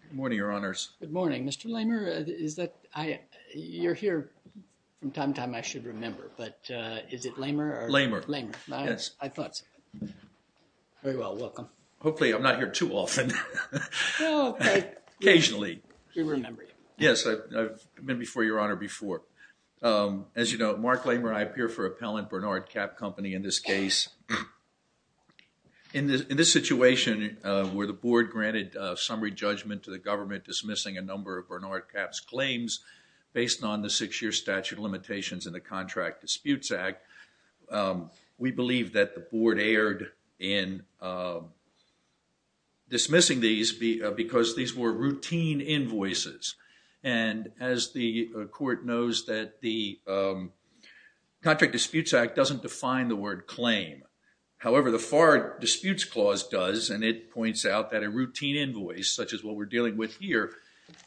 Good morning, Your Honors. Good morning, Mr. Lamer. You're here from time to time, I should remember, but is it Lamer? Lamer. Yes, I thought so. Very well, welcome. Hopefully I'm not here too often. Occasionally. We remember you. Yes, I've been before, Your Honor, before. As you know, Mark Lamer and I appear for Appellant Bernard Cap Company in this case. In this situation where the board granted summary judgment to the government dismissing a number of Bernard Cap's claims based on the six-year statute limitations in the Contract Disputes Act, we believe that the board erred in dismissing these because these were routine invoices. And as the court knows that the Contract Disputes Act doesn't define the word claim. However, the FAR Disputes Clause does, and it points out that a routine invoice, such as what we're dealing with here,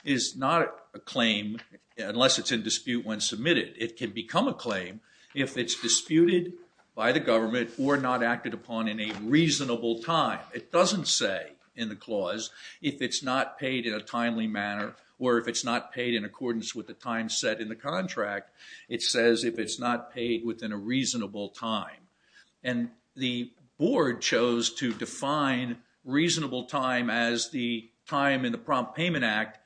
is not a claim unless it's in dispute when submitted. It can become a claim if it's disputed by the government or not acted upon in a reasonable time. It doesn't say in the clause if it's not paid in a timely manner or if it's not paid in accordance with the time set in the contract. It says if it's not paid within a reasonable time. And the board chose to define reasonable time as the time in the Prompt Payment Act,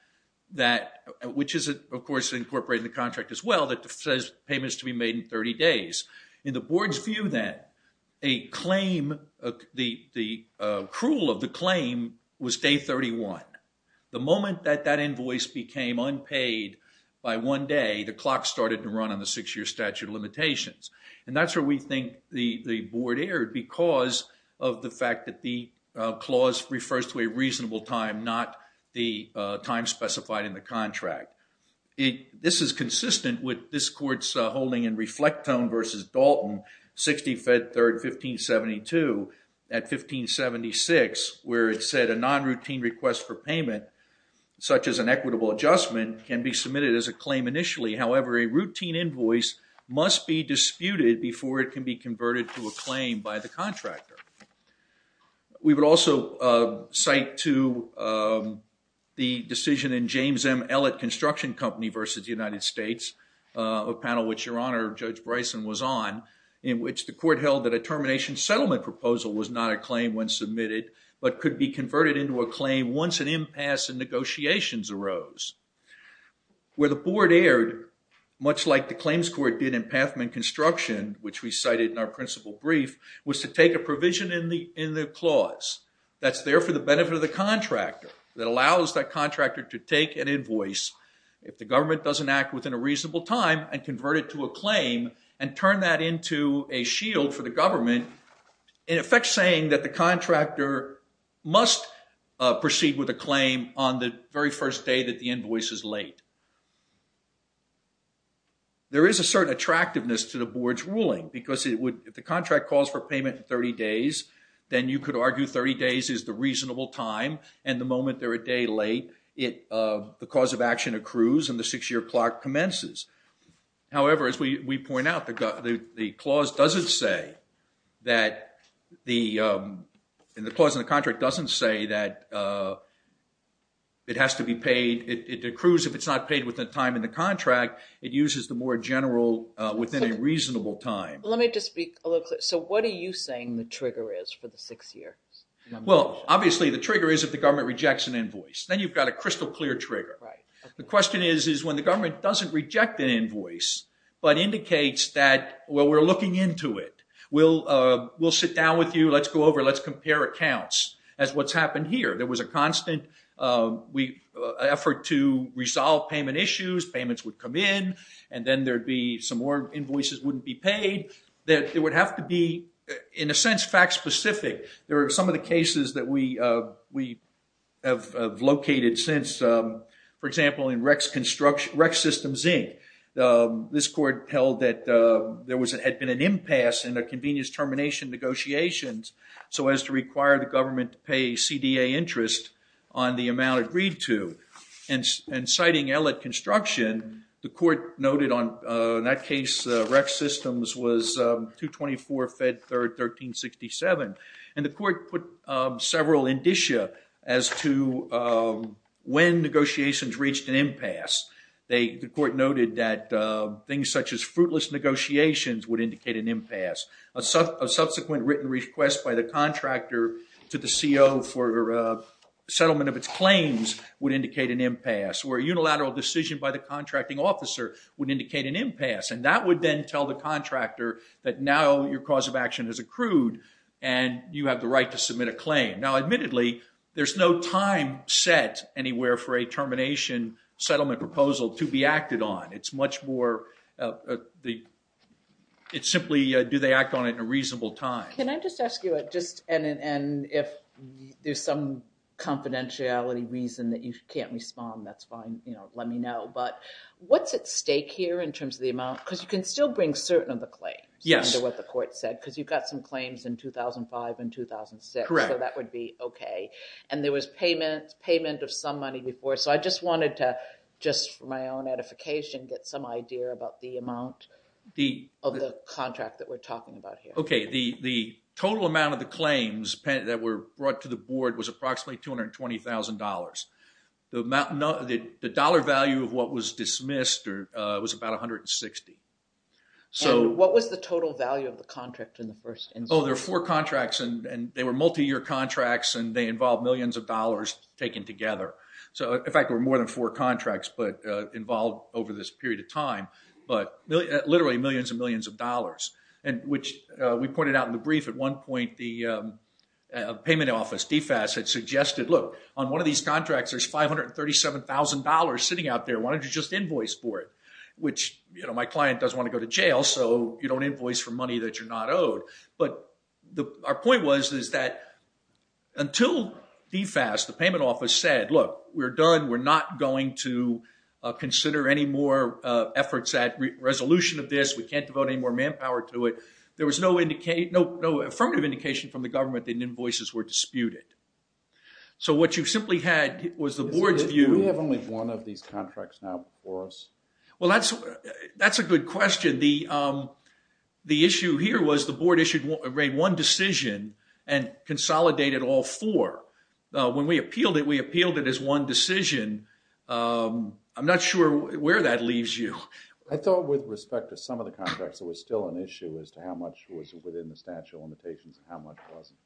which is, of course, incorporated in the contract as well, that says payments to be made in 30 days. In the board's view, then, the accrual of the claim was day 31. The moment that that invoice became unpaid by one day, the clock started to run on the six-year statute of limitations. And that's where we think the board erred because of the fact that the clause refers to a reasonable time, not the time specified in the contract. This is consistent with this court's holding in Reflectone v. Dalton, 60 Fed 3rd, 1572, at 1576, where it said a non-routine request for payment, such as an equitable adjustment, can be submitted as a claim initially. However, a routine invoice must be disputed before it can be converted to a claim by the contractor. We would also cite to the decision in James M. Ellett Construction Company v. United States, a panel which Your Honor, Judge Bryson, was on, in which the court held that a termination settlement proposal was not a claim when submitted, but could be converted into a claim once an impasse in negotiations arose. Where the board erred, much like the claims court did in Pathman Construction, which we cited in our principal brief, was to take a provision in the clause that's there for the benefit of the contractor, that allows that contractor to take an invoice, if the government doesn't act within a reasonable time, and convert it to a claim, and turn that into a shield for the government, in effect saying that the contractor must proceed with a claim on the very first day that the invoice is laid. There is a certain attractiveness to the board's ruling, because if the contract calls for payment in 30 days, then you could argue 30 days is the reasonable time, and the moment they're a day late, the cause of action accrues and the six-year clock commences. However, as we point out, the clause in the contract doesn't say that it has to be paid. It accrues if it's not paid within the time in the contract. It uses the more general, within a reasonable time. Let me just be a little clear. So what are you saying the trigger is for the six years? Well, obviously the trigger is if the government rejects an invoice. Then you've got a crystal clear trigger. The question is when the government doesn't reject an invoice, but indicates that, well, we're looking into it, we'll sit down with you, let's go over, let's compare accounts, as what's happened here. There was a constant effort to resolve payment issues, payments would come in, and then there'd be some more invoices wouldn't be paid, that it would have to be, in a sense, fact specific. There are some of the cases that we have located since, for example, in Rex Systems Inc. This court held that there had been an impasse in the convenience termination negotiations, so as to require the government to pay CDA interest on the amount agreed to. And citing ELLIT construction, the court noted on that case, Rex Systems was 224 Fed 3rd 1367, and the court put several indicia as to when negotiations reached an impasse. The court noted that things such as fruitless negotiations would indicate an impasse. A subsequent written request by the contractor to the CO for settlement of its claims would indicate an impasse, or a unilateral decision by the contracting officer would indicate an impasse, and that would then tell the contractor that now your cause of action has accrued, and you have the right to submit a claim. Now admittedly, there's no time set anywhere for a termination settlement proposal to be acted on. It's simply do they act on it in a reasonable time. Can I just ask you, and if there's some confidentiality reason that you can't respond, that's fine. Let me know, but what's at stake here in terms of the amount? Because you can still bring certain of the claims under what the court said, because you've got some claims in 2005 and 2006, so that would be okay. And there was payment of some money before, so I just wanted to just for my own edification get some idea about the amount of the contract that we're talking about here. Okay, the total amount of the claims that were brought to the board was approximately $220,000. The dollar value of what was dismissed was about $160,000. What was the total value of the contract in the first instance? Oh, there were four contracts, and they were multi-year contracts, and they involved millions of dollars taken together. In fact, there were more than four contracts involved over this period of time, but literally millions and millions of dollars, which we pointed out in the brief. At one point, the payment office, DFAS, had suggested, look, on one of these contracts, there's $537,000 sitting out there. Why don't you just invoice for it, which my client doesn't want to go to jail, so you don't invoice for money that you're not owed. But our point was is that until DFAS, the payment office, said, look, we're done, we're not going to consider any more efforts at resolution of this, we can't devote any more manpower to it, there was no affirmative indication from the government that invoices were disputed. So what you simply had was the board's view. We have only one of these contracts now before us. Well, that's a good question. The issue here was the board issued one decision and consolidated all four. When we appealed it, we appealed it as one decision. I'm not sure where that leaves you. I thought with respect to some of the contracts, there was still an issue as to how much was within the statute of limitations and how much wasn't.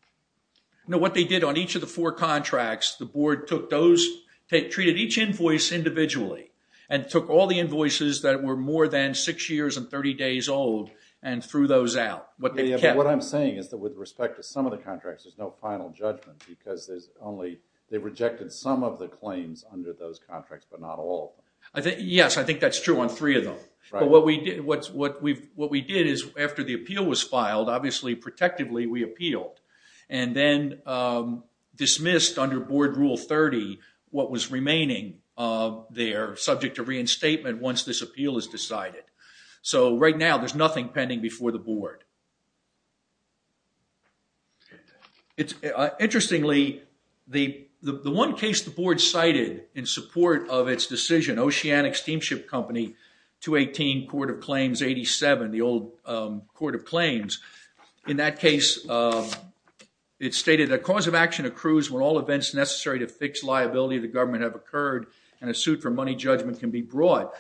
No, what they did on each of the four contracts, the board treated each invoice individually and took all the invoices that were more than six years and 30 days old and threw those out. What I'm saying is that with respect to some of the contracts, there's no final judgment because they rejected some of the claims under those contracts, but not all of them. Yes, I think that's true on three of them. But what we did is after the appeal was filed, obviously protectively we appealed and then dismissed under Board Rule 30 what was remaining there, subject to reinstatement once this appeal is decided. So right now there's nothing pending before the board. Interestingly, the one case the board cited in support of its decision, Oceanic Steamship Company, 218 Court of Claims 87, the old Court of Claims, in that case it stated, A cause of action accrues when all events necessary to fix liability of the government have occurred and a suit for money judgment can be brought.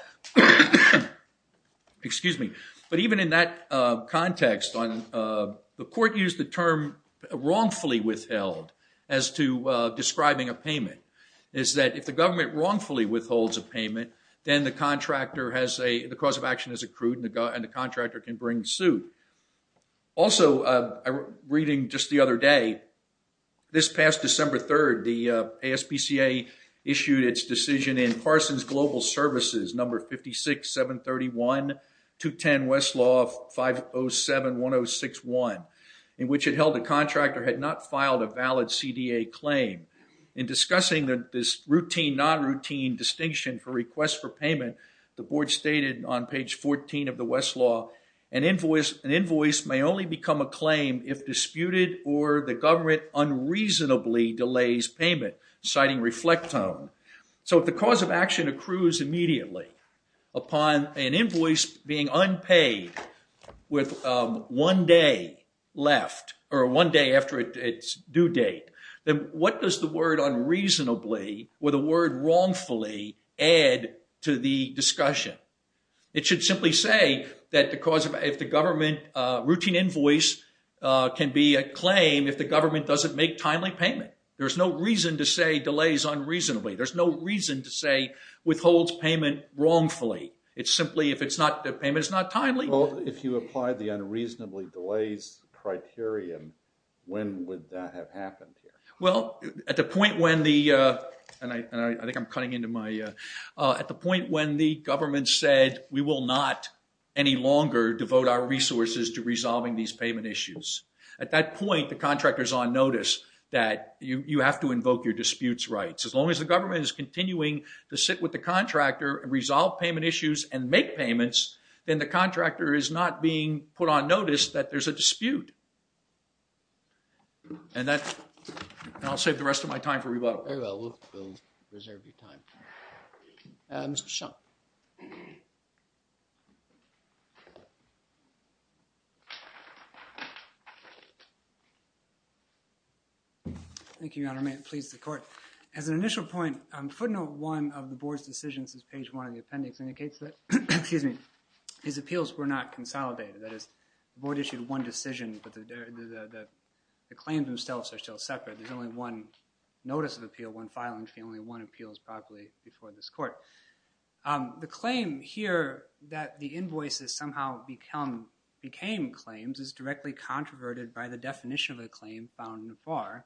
But even in that context, the court used the term wrongfully withheld as to describing a payment. It's that if the government wrongfully withholds a payment, then the cause of action is accrued and the contractor can bring suit. Also, reading just the other day, this past December 3rd, the ASPCA issued its decision in Parsons Global Services, number 56731, 210 Westlaw 5071061, in which it held the contractor had not filed a valid CDA claim. In discussing this routine, non-routine distinction for requests for payment, the board stated on page 14 of the Westlaw, An invoice may only become a claim if disputed or the government unreasonably delays payment, citing reflectome. So if the cause of action accrues immediately upon an invoice being unpaid with one day left, or one day after its due date, then what does the word unreasonably or the word wrongfully add to the discussion? It should simply say that if the government routine invoice can be a claim if the government doesn't make timely payment. There's no reason to say delays unreasonably. There's no reason to say withholds payment wrongfully. It's simply if the payment is not timely. Well, if you apply the unreasonably delays criterion, when would that have happened? Well, at the point when the, and I think I'm cutting into my, at the point when the government said we will not any longer devote our resources to resolving these payment issues. At that point, the contractor's on notice that you have to invoke your disputes rights. As long as the government is continuing to sit with the contractor and resolve payment issues and make payments, then the contractor is not being put on notice that there's a dispute. And that, and I'll save the rest of my time for rebuttal. Oh, well, we'll reserve your time. Mr. Shum. Thank you, Your Honor. May it please the court. As an initial point, footnote one of the board's decisions is page one of the appendix indicates that, excuse me, his appeals were not consolidated. That is, the board issued one decision, but the claims themselves are still separate. There's only one notice of appeal, one filing fee, only one appeals properly before this court. The claim here that the invoices somehow became claims is directly controverted by the definition of a claim found in the FAR,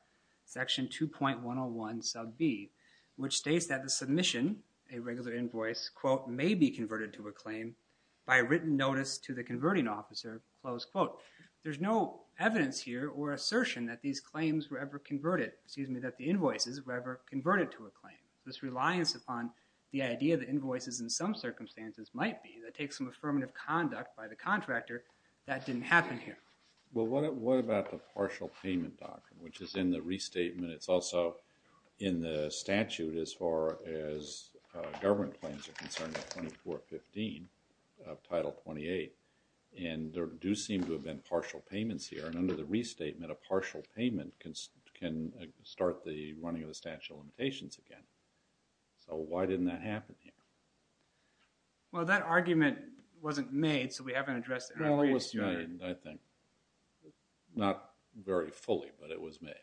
section 2.101 sub B, which states that the submission, a regular invoice, quote, may be converted to a claim by written notice to the converting officer, close quote. There's no evidence here or assertion that these claims were ever converted, excuse me, that the invoices were ever converted to a claim. This reliance upon the idea that invoices in some circumstances might be that takes some affirmative conduct by the contractor, that didn't happen here. Well, what about the partial payment doctrine, which is in the restatement, it's also in the statute as far as government claims are concerned, 2415, Title 28, and there do seem to have been partial payments here, and under the restatement, a partial payment can start the running of the statute of limitations again. So why didn't that happen here? Well, that argument wasn't made, so we haven't addressed it. Well, it was made, I think. Not very fully, but it was made.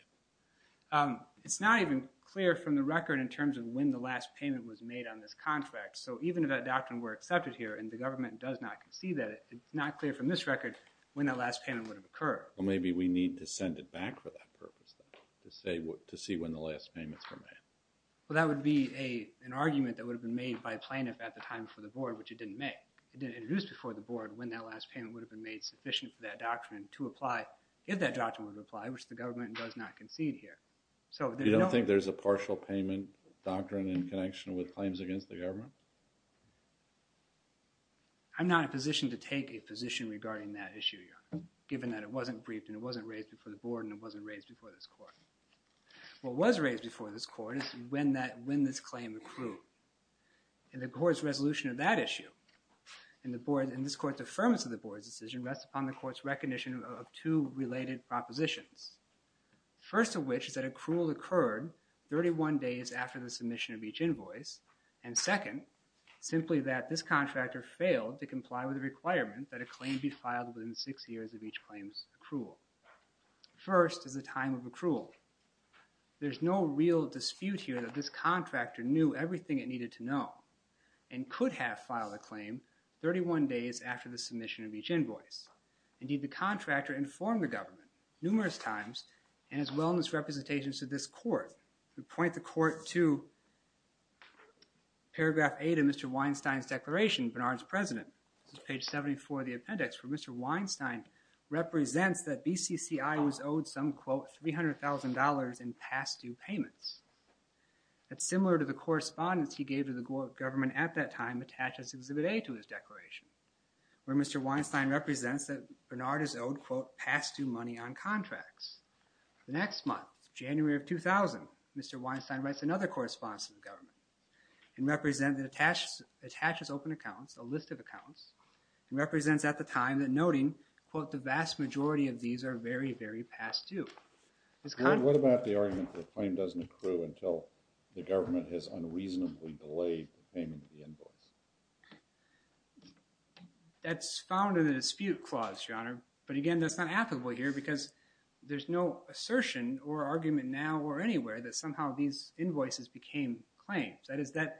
It's not even clear from the record in terms of when the last payment was made on this contract, so even if that doctrine were accepted here and the government does not concede that, it's not clear from this record when that last payment would have occurred. Well, maybe we need to send it back for that purpose, to see when the last payments were made. Well, that would be an argument that would have been made by a plaintiff at the time before the board, which it didn't make. It didn't introduce before the board when that last payment would have been made sufficient for that doctrine to apply, if that doctrine would apply, which the government does not concede here. You don't think there's a partial payment doctrine in connection with claims against the government? I'm not in a position to take a position regarding that issue, Your Honor, given that it wasn't briefed and it wasn't raised before the board and it wasn't raised before this court. What was raised before this court is when this claim accrued, and the court's resolution of that issue and this court's affirmance of the board's decision rests upon the court's recognition of two related propositions. First of which is that accrual occurred 31 days after the submission of each invoice, and second, simply that this contractor failed to comply with the requirement that a claim be filed within six years of each claim's accrual. First is the time of accrual. There's no real dispute here that this contractor knew everything it needed to know and could have filed a claim 31 days after the submission of each invoice. Indeed, the contractor informed the government numerous times and has wellness representations to this court. We point the court to paragraph 8 of Mr. Weinstein's declaration, Bernard's President, page 74 of the appendix, where Mr. Weinstein represents that BCCI was owed some, quote, $300,000 in past due payments. That's similar to the correspondence he gave to the government at that time attached as Exhibit A to his declaration, where Mr. Weinstein represents that Bernard is owed, quote, past due money on contracts. The next month, January of 2000, Mr. Weinstein writes another correspondence to the government and attaches open accounts, a list of accounts, and represents at the time that noting, quote, the vast majority of these are very, very past due. What about the argument that a claim doesn't accrue until the government has unreasonably delayed the payment of the invoice? That's found in the dispute clause, Your Honor. But again, that's not applicable here because there's no assertion or argument now or anywhere that somehow these invoices became claims. That is, that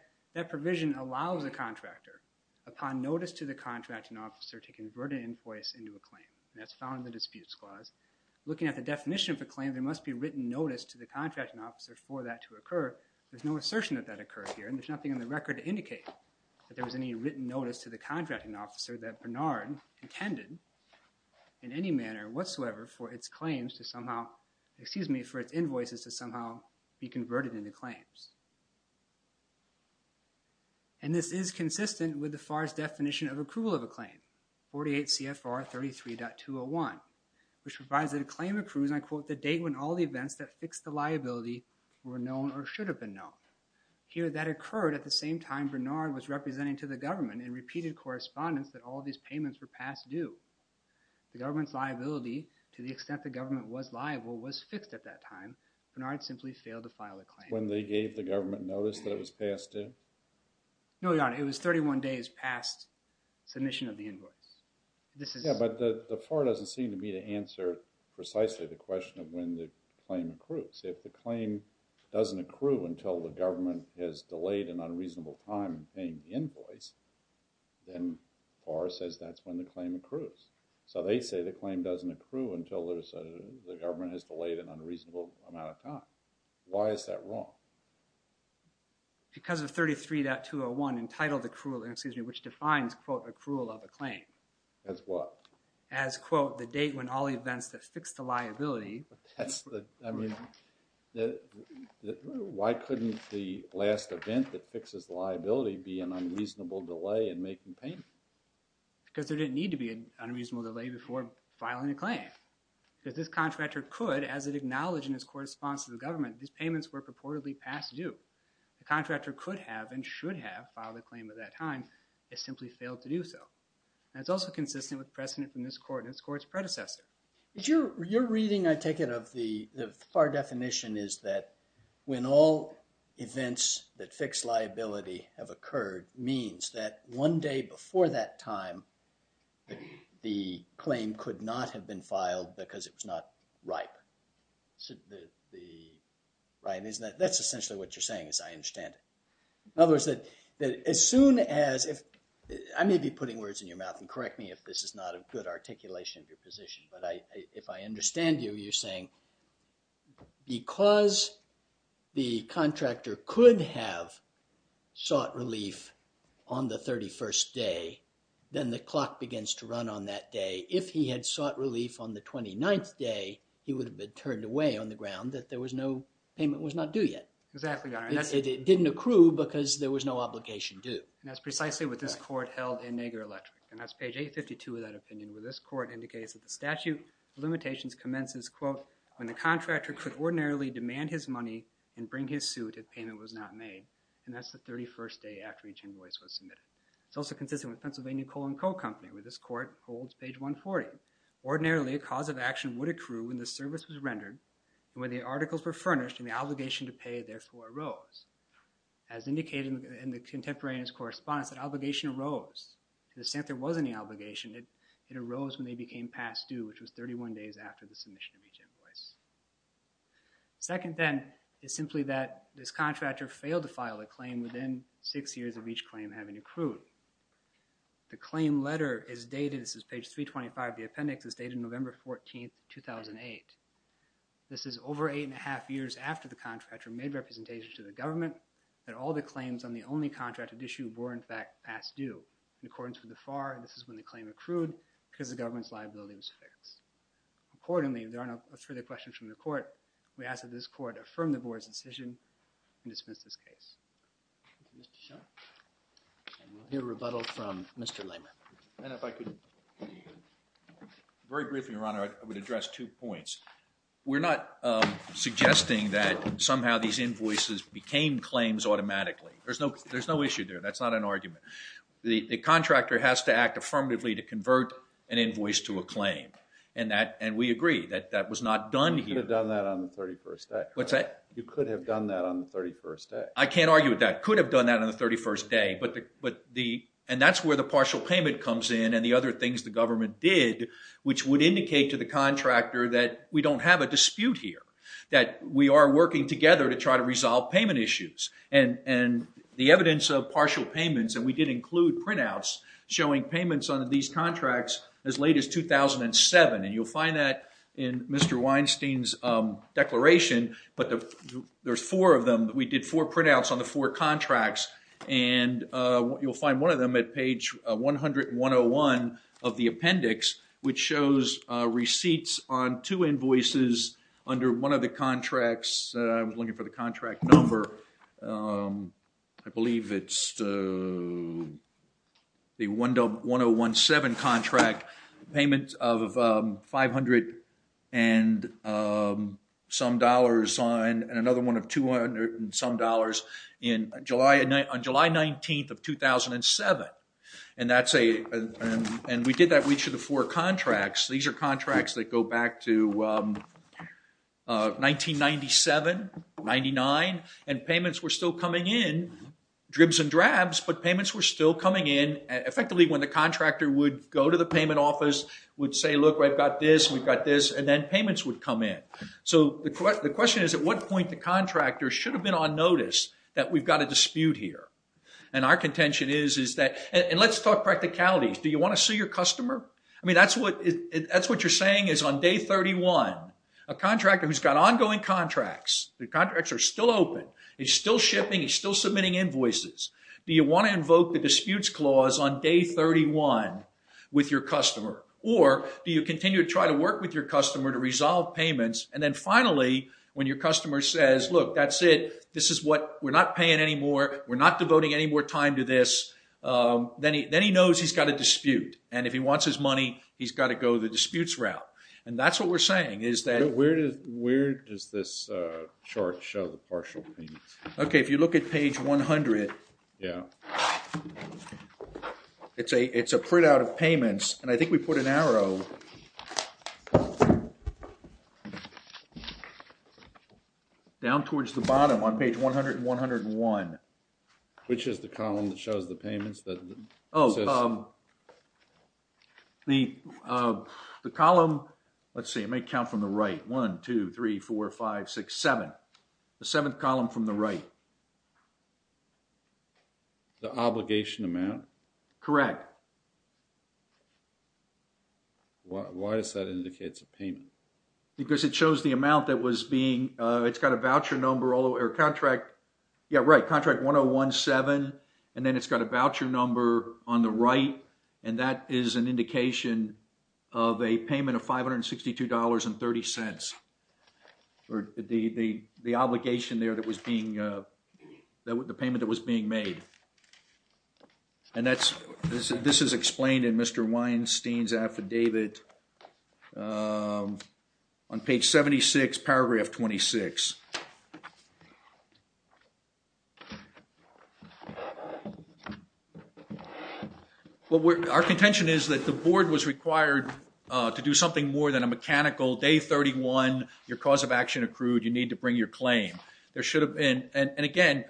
provision allows a contractor, upon notice to the contracting officer, to convert an invoice into a claim. That's found in the disputes clause. Looking at the definition of a claim, there must be written notice to the contracting officer for that to occur. There's no assertion that that occurred here, and there's nothing in the record to indicate that there was any written notice to the contracting officer that Bernard intended in any manner whatsoever for its claims to somehow, excuse me, for its invoices to somehow be converted into claims. And this is consistent with the FAR's definition of accrual of a claim, 48 CFR 33.201, which provides that a claim accrues, and I quote, the date when all the events that fixed the liability were known or should have been known. Here, that occurred at the same time Bernard was representing to the government in repeated correspondence that all these payments were past due. The government's liability, to the extent the government was liable, was fixed at that time. Bernard simply failed to file a claim. When they gave the government notice that it was past due? No, Your Honor, it was 31 days past submission of the invoice. Yeah, but the FAR doesn't seem to be to answer precisely the question of when the claim accrues. If the claim doesn't accrue until the government has delayed an unreasonable time in paying the invoice, then FAR says that's when the claim accrues. So they say the claim doesn't accrue until the government has delayed an unreasonable amount of time. Why is that wrong? Because of 33.201 entitled accrual, excuse me, which defines, quote, accrual of a claim. As what? As, quote, the date when all events that fixed the liability. That's the, I mean, why couldn't the last event that fixes liability be an unreasonable delay in making payments? Because there didn't need to be an unreasonable delay before filing a claim. Because this contractor could, as it acknowledged in his correspondence to the government, these payments were purportedly past due. The contractor could have and should have filed a claim at that time. It simply failed to do so. And it's also consistent with precedent from this court and its court's predecessor. Your reading, I take it, of the FAR definition is that when all events that fix liability have occurred means that one day before that time the claim could not have been filed because it was not ripe. The, that's essentially what you're saying, as I understand it. In other words, that as soon as, I may be putting words in your mouth, and correct me if this is not a good articulation of your position. But if I understand you, you're saying because the contractor could have sought relief on the 31st day, then the clock begins to run on that day. If he had sought relief on the 29th day, he would have been turned away on the ground that there was no, payment was not due yet. Exactly, Your Honor. It didn't accrue because there was no obligation due. And that's precisely what this court held in Nager Electric. And that's page 852 of that opinion, where this court indicates that the statute of limitations commences, quote, when the contractor could ordinarily demand his money and bring his suit if payment was not made. And that's the 31st day after each invoice was submitted. It's also consistent with Pennsylvania Coal and Coal Company, where this court holds page 140. Ordinarily, a cause of action would accrue when the service was rendered, when the articles were furnished, and the obligation to pay, therefore, arose. As indicated in the contemporaneous correspondence, that obligation arose. To the extent there was any obligation, it arose when they became past due, which was 31 days after the submission of each invoice. Second, then, is simply that this contractor failed to file a claim within six years of each claim having accrued. The claim letter is dated, this is page 325 of the appendix, is dated November 14, 2008. This is over eight and a half years after the contractor made representation to the government that all the claims on the only contracted issue were, in fact, past due. In accordance with the FAR, this is when the claim accrued because the government's liability was fixed. Accordingly, if there are no further questions from the court, we ask that this court affirm the board's decision and dismiss this case. Thank you, Mr. Shaw. And we'll hear rebuttal from Mr. Lamer. And if I could, very briefly, Your Honor, I would address two points. We're not suggesting that somehow these invoices became claims automatically. There's no issue there. That's not an argument. The contractor has to act affirmatively to convert an invoice to a claim. And we agree that that was not done here. You could have done that on the 31st day. What's that? You could have done that on the 31st day. I can't argue with that. Could have done that on the 31st day. And that's where the partial payment comes in and the other things the government did, which would indicate to the contractor that we don't have a dispute here, that we are working together to try to resolve payment issues. And the evidence of partial payments, and we did include printouts showing payments on these contracts as late as 2007. And you'll find that in Mr. Weinstein's declaration. But there's four of them. We did four printouts on the four contracts. And you'll find one of them at page 100101 of the appendix, which shows receipts on two invoices under one of the contracts. I was looking for the contract number. I believe it's the 1017 contract payment of 500 and some dollars on another one of 200 and some dollars on July 19 of 2007. And we did that with each of the four contracts. These are contracts that go back to 1997, 99. And payments were still coming in, dribs and drabs, but payments were still coming in. Effectively, when the contractor would go to the payment office, would say, look, I've got this, we've got this, and then payments would come in. So the question is at what point the contractor should have been on notice that we've got a dispute here. And our contention is that – and let's talk practicalities. Do you want to sue your customer? I mean, that's what you're saying is on day 31, a contractor who's got ongoing contracts, the contracts are still open, he's still shipping, he's still submitting invoices. Do you want to invoke the disputes clause on day 31 with your customer? Or do you continue to try to work with your customer to resolve payments, and then finally when your customer says, look, that's it, this is what – we're not paying any more, we're not devoting any more time to this, then he knows he's got a dispute. And if he wants his money, he's got to go the disputes route. And that's what we're saying is that – Where does this chart show the partial payments? Okay, if you look at page 100, it's a printout of payments, and I think we put an arrow down towards the bottom on page 100 and 101. Which is the column that shows the payments? Oh, the column – let's see, it may count from the right. One, two, three, four, five, six, seven. The seventh column from the right. The obligation amount? Correct. Why does that indicate it's a payment? Because it shows the amount that was being – it's got a voucher number all the way – or contract – yeah, right, contract 1017, and then it's got a voucher number on the right, and that is an indication of a payment of $562.30. Or the obligation there that was being – the payment that was being made. And that's – this is explained in Mr. Weinstein's affidavit on page 76, paragraph 26. Our contention is that the board was required to do something more than a mechanical day 31, your cause of action accrued, you need to bring your claim. There should have been – and, again,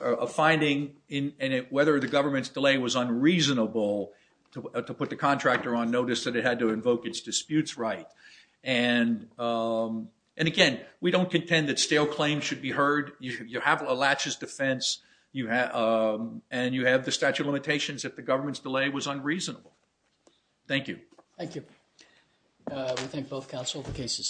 a finding in whether the government's delay was unreasonable to put the contractor on notice that it had to invoke its disputes right. And, again, we don't contend that stale claims should be heard. You have a laches defense, and you have the statute of limitations if the government's delay was unreasonable. Thank you. Thank you. We thank both counsel. The case is submitted.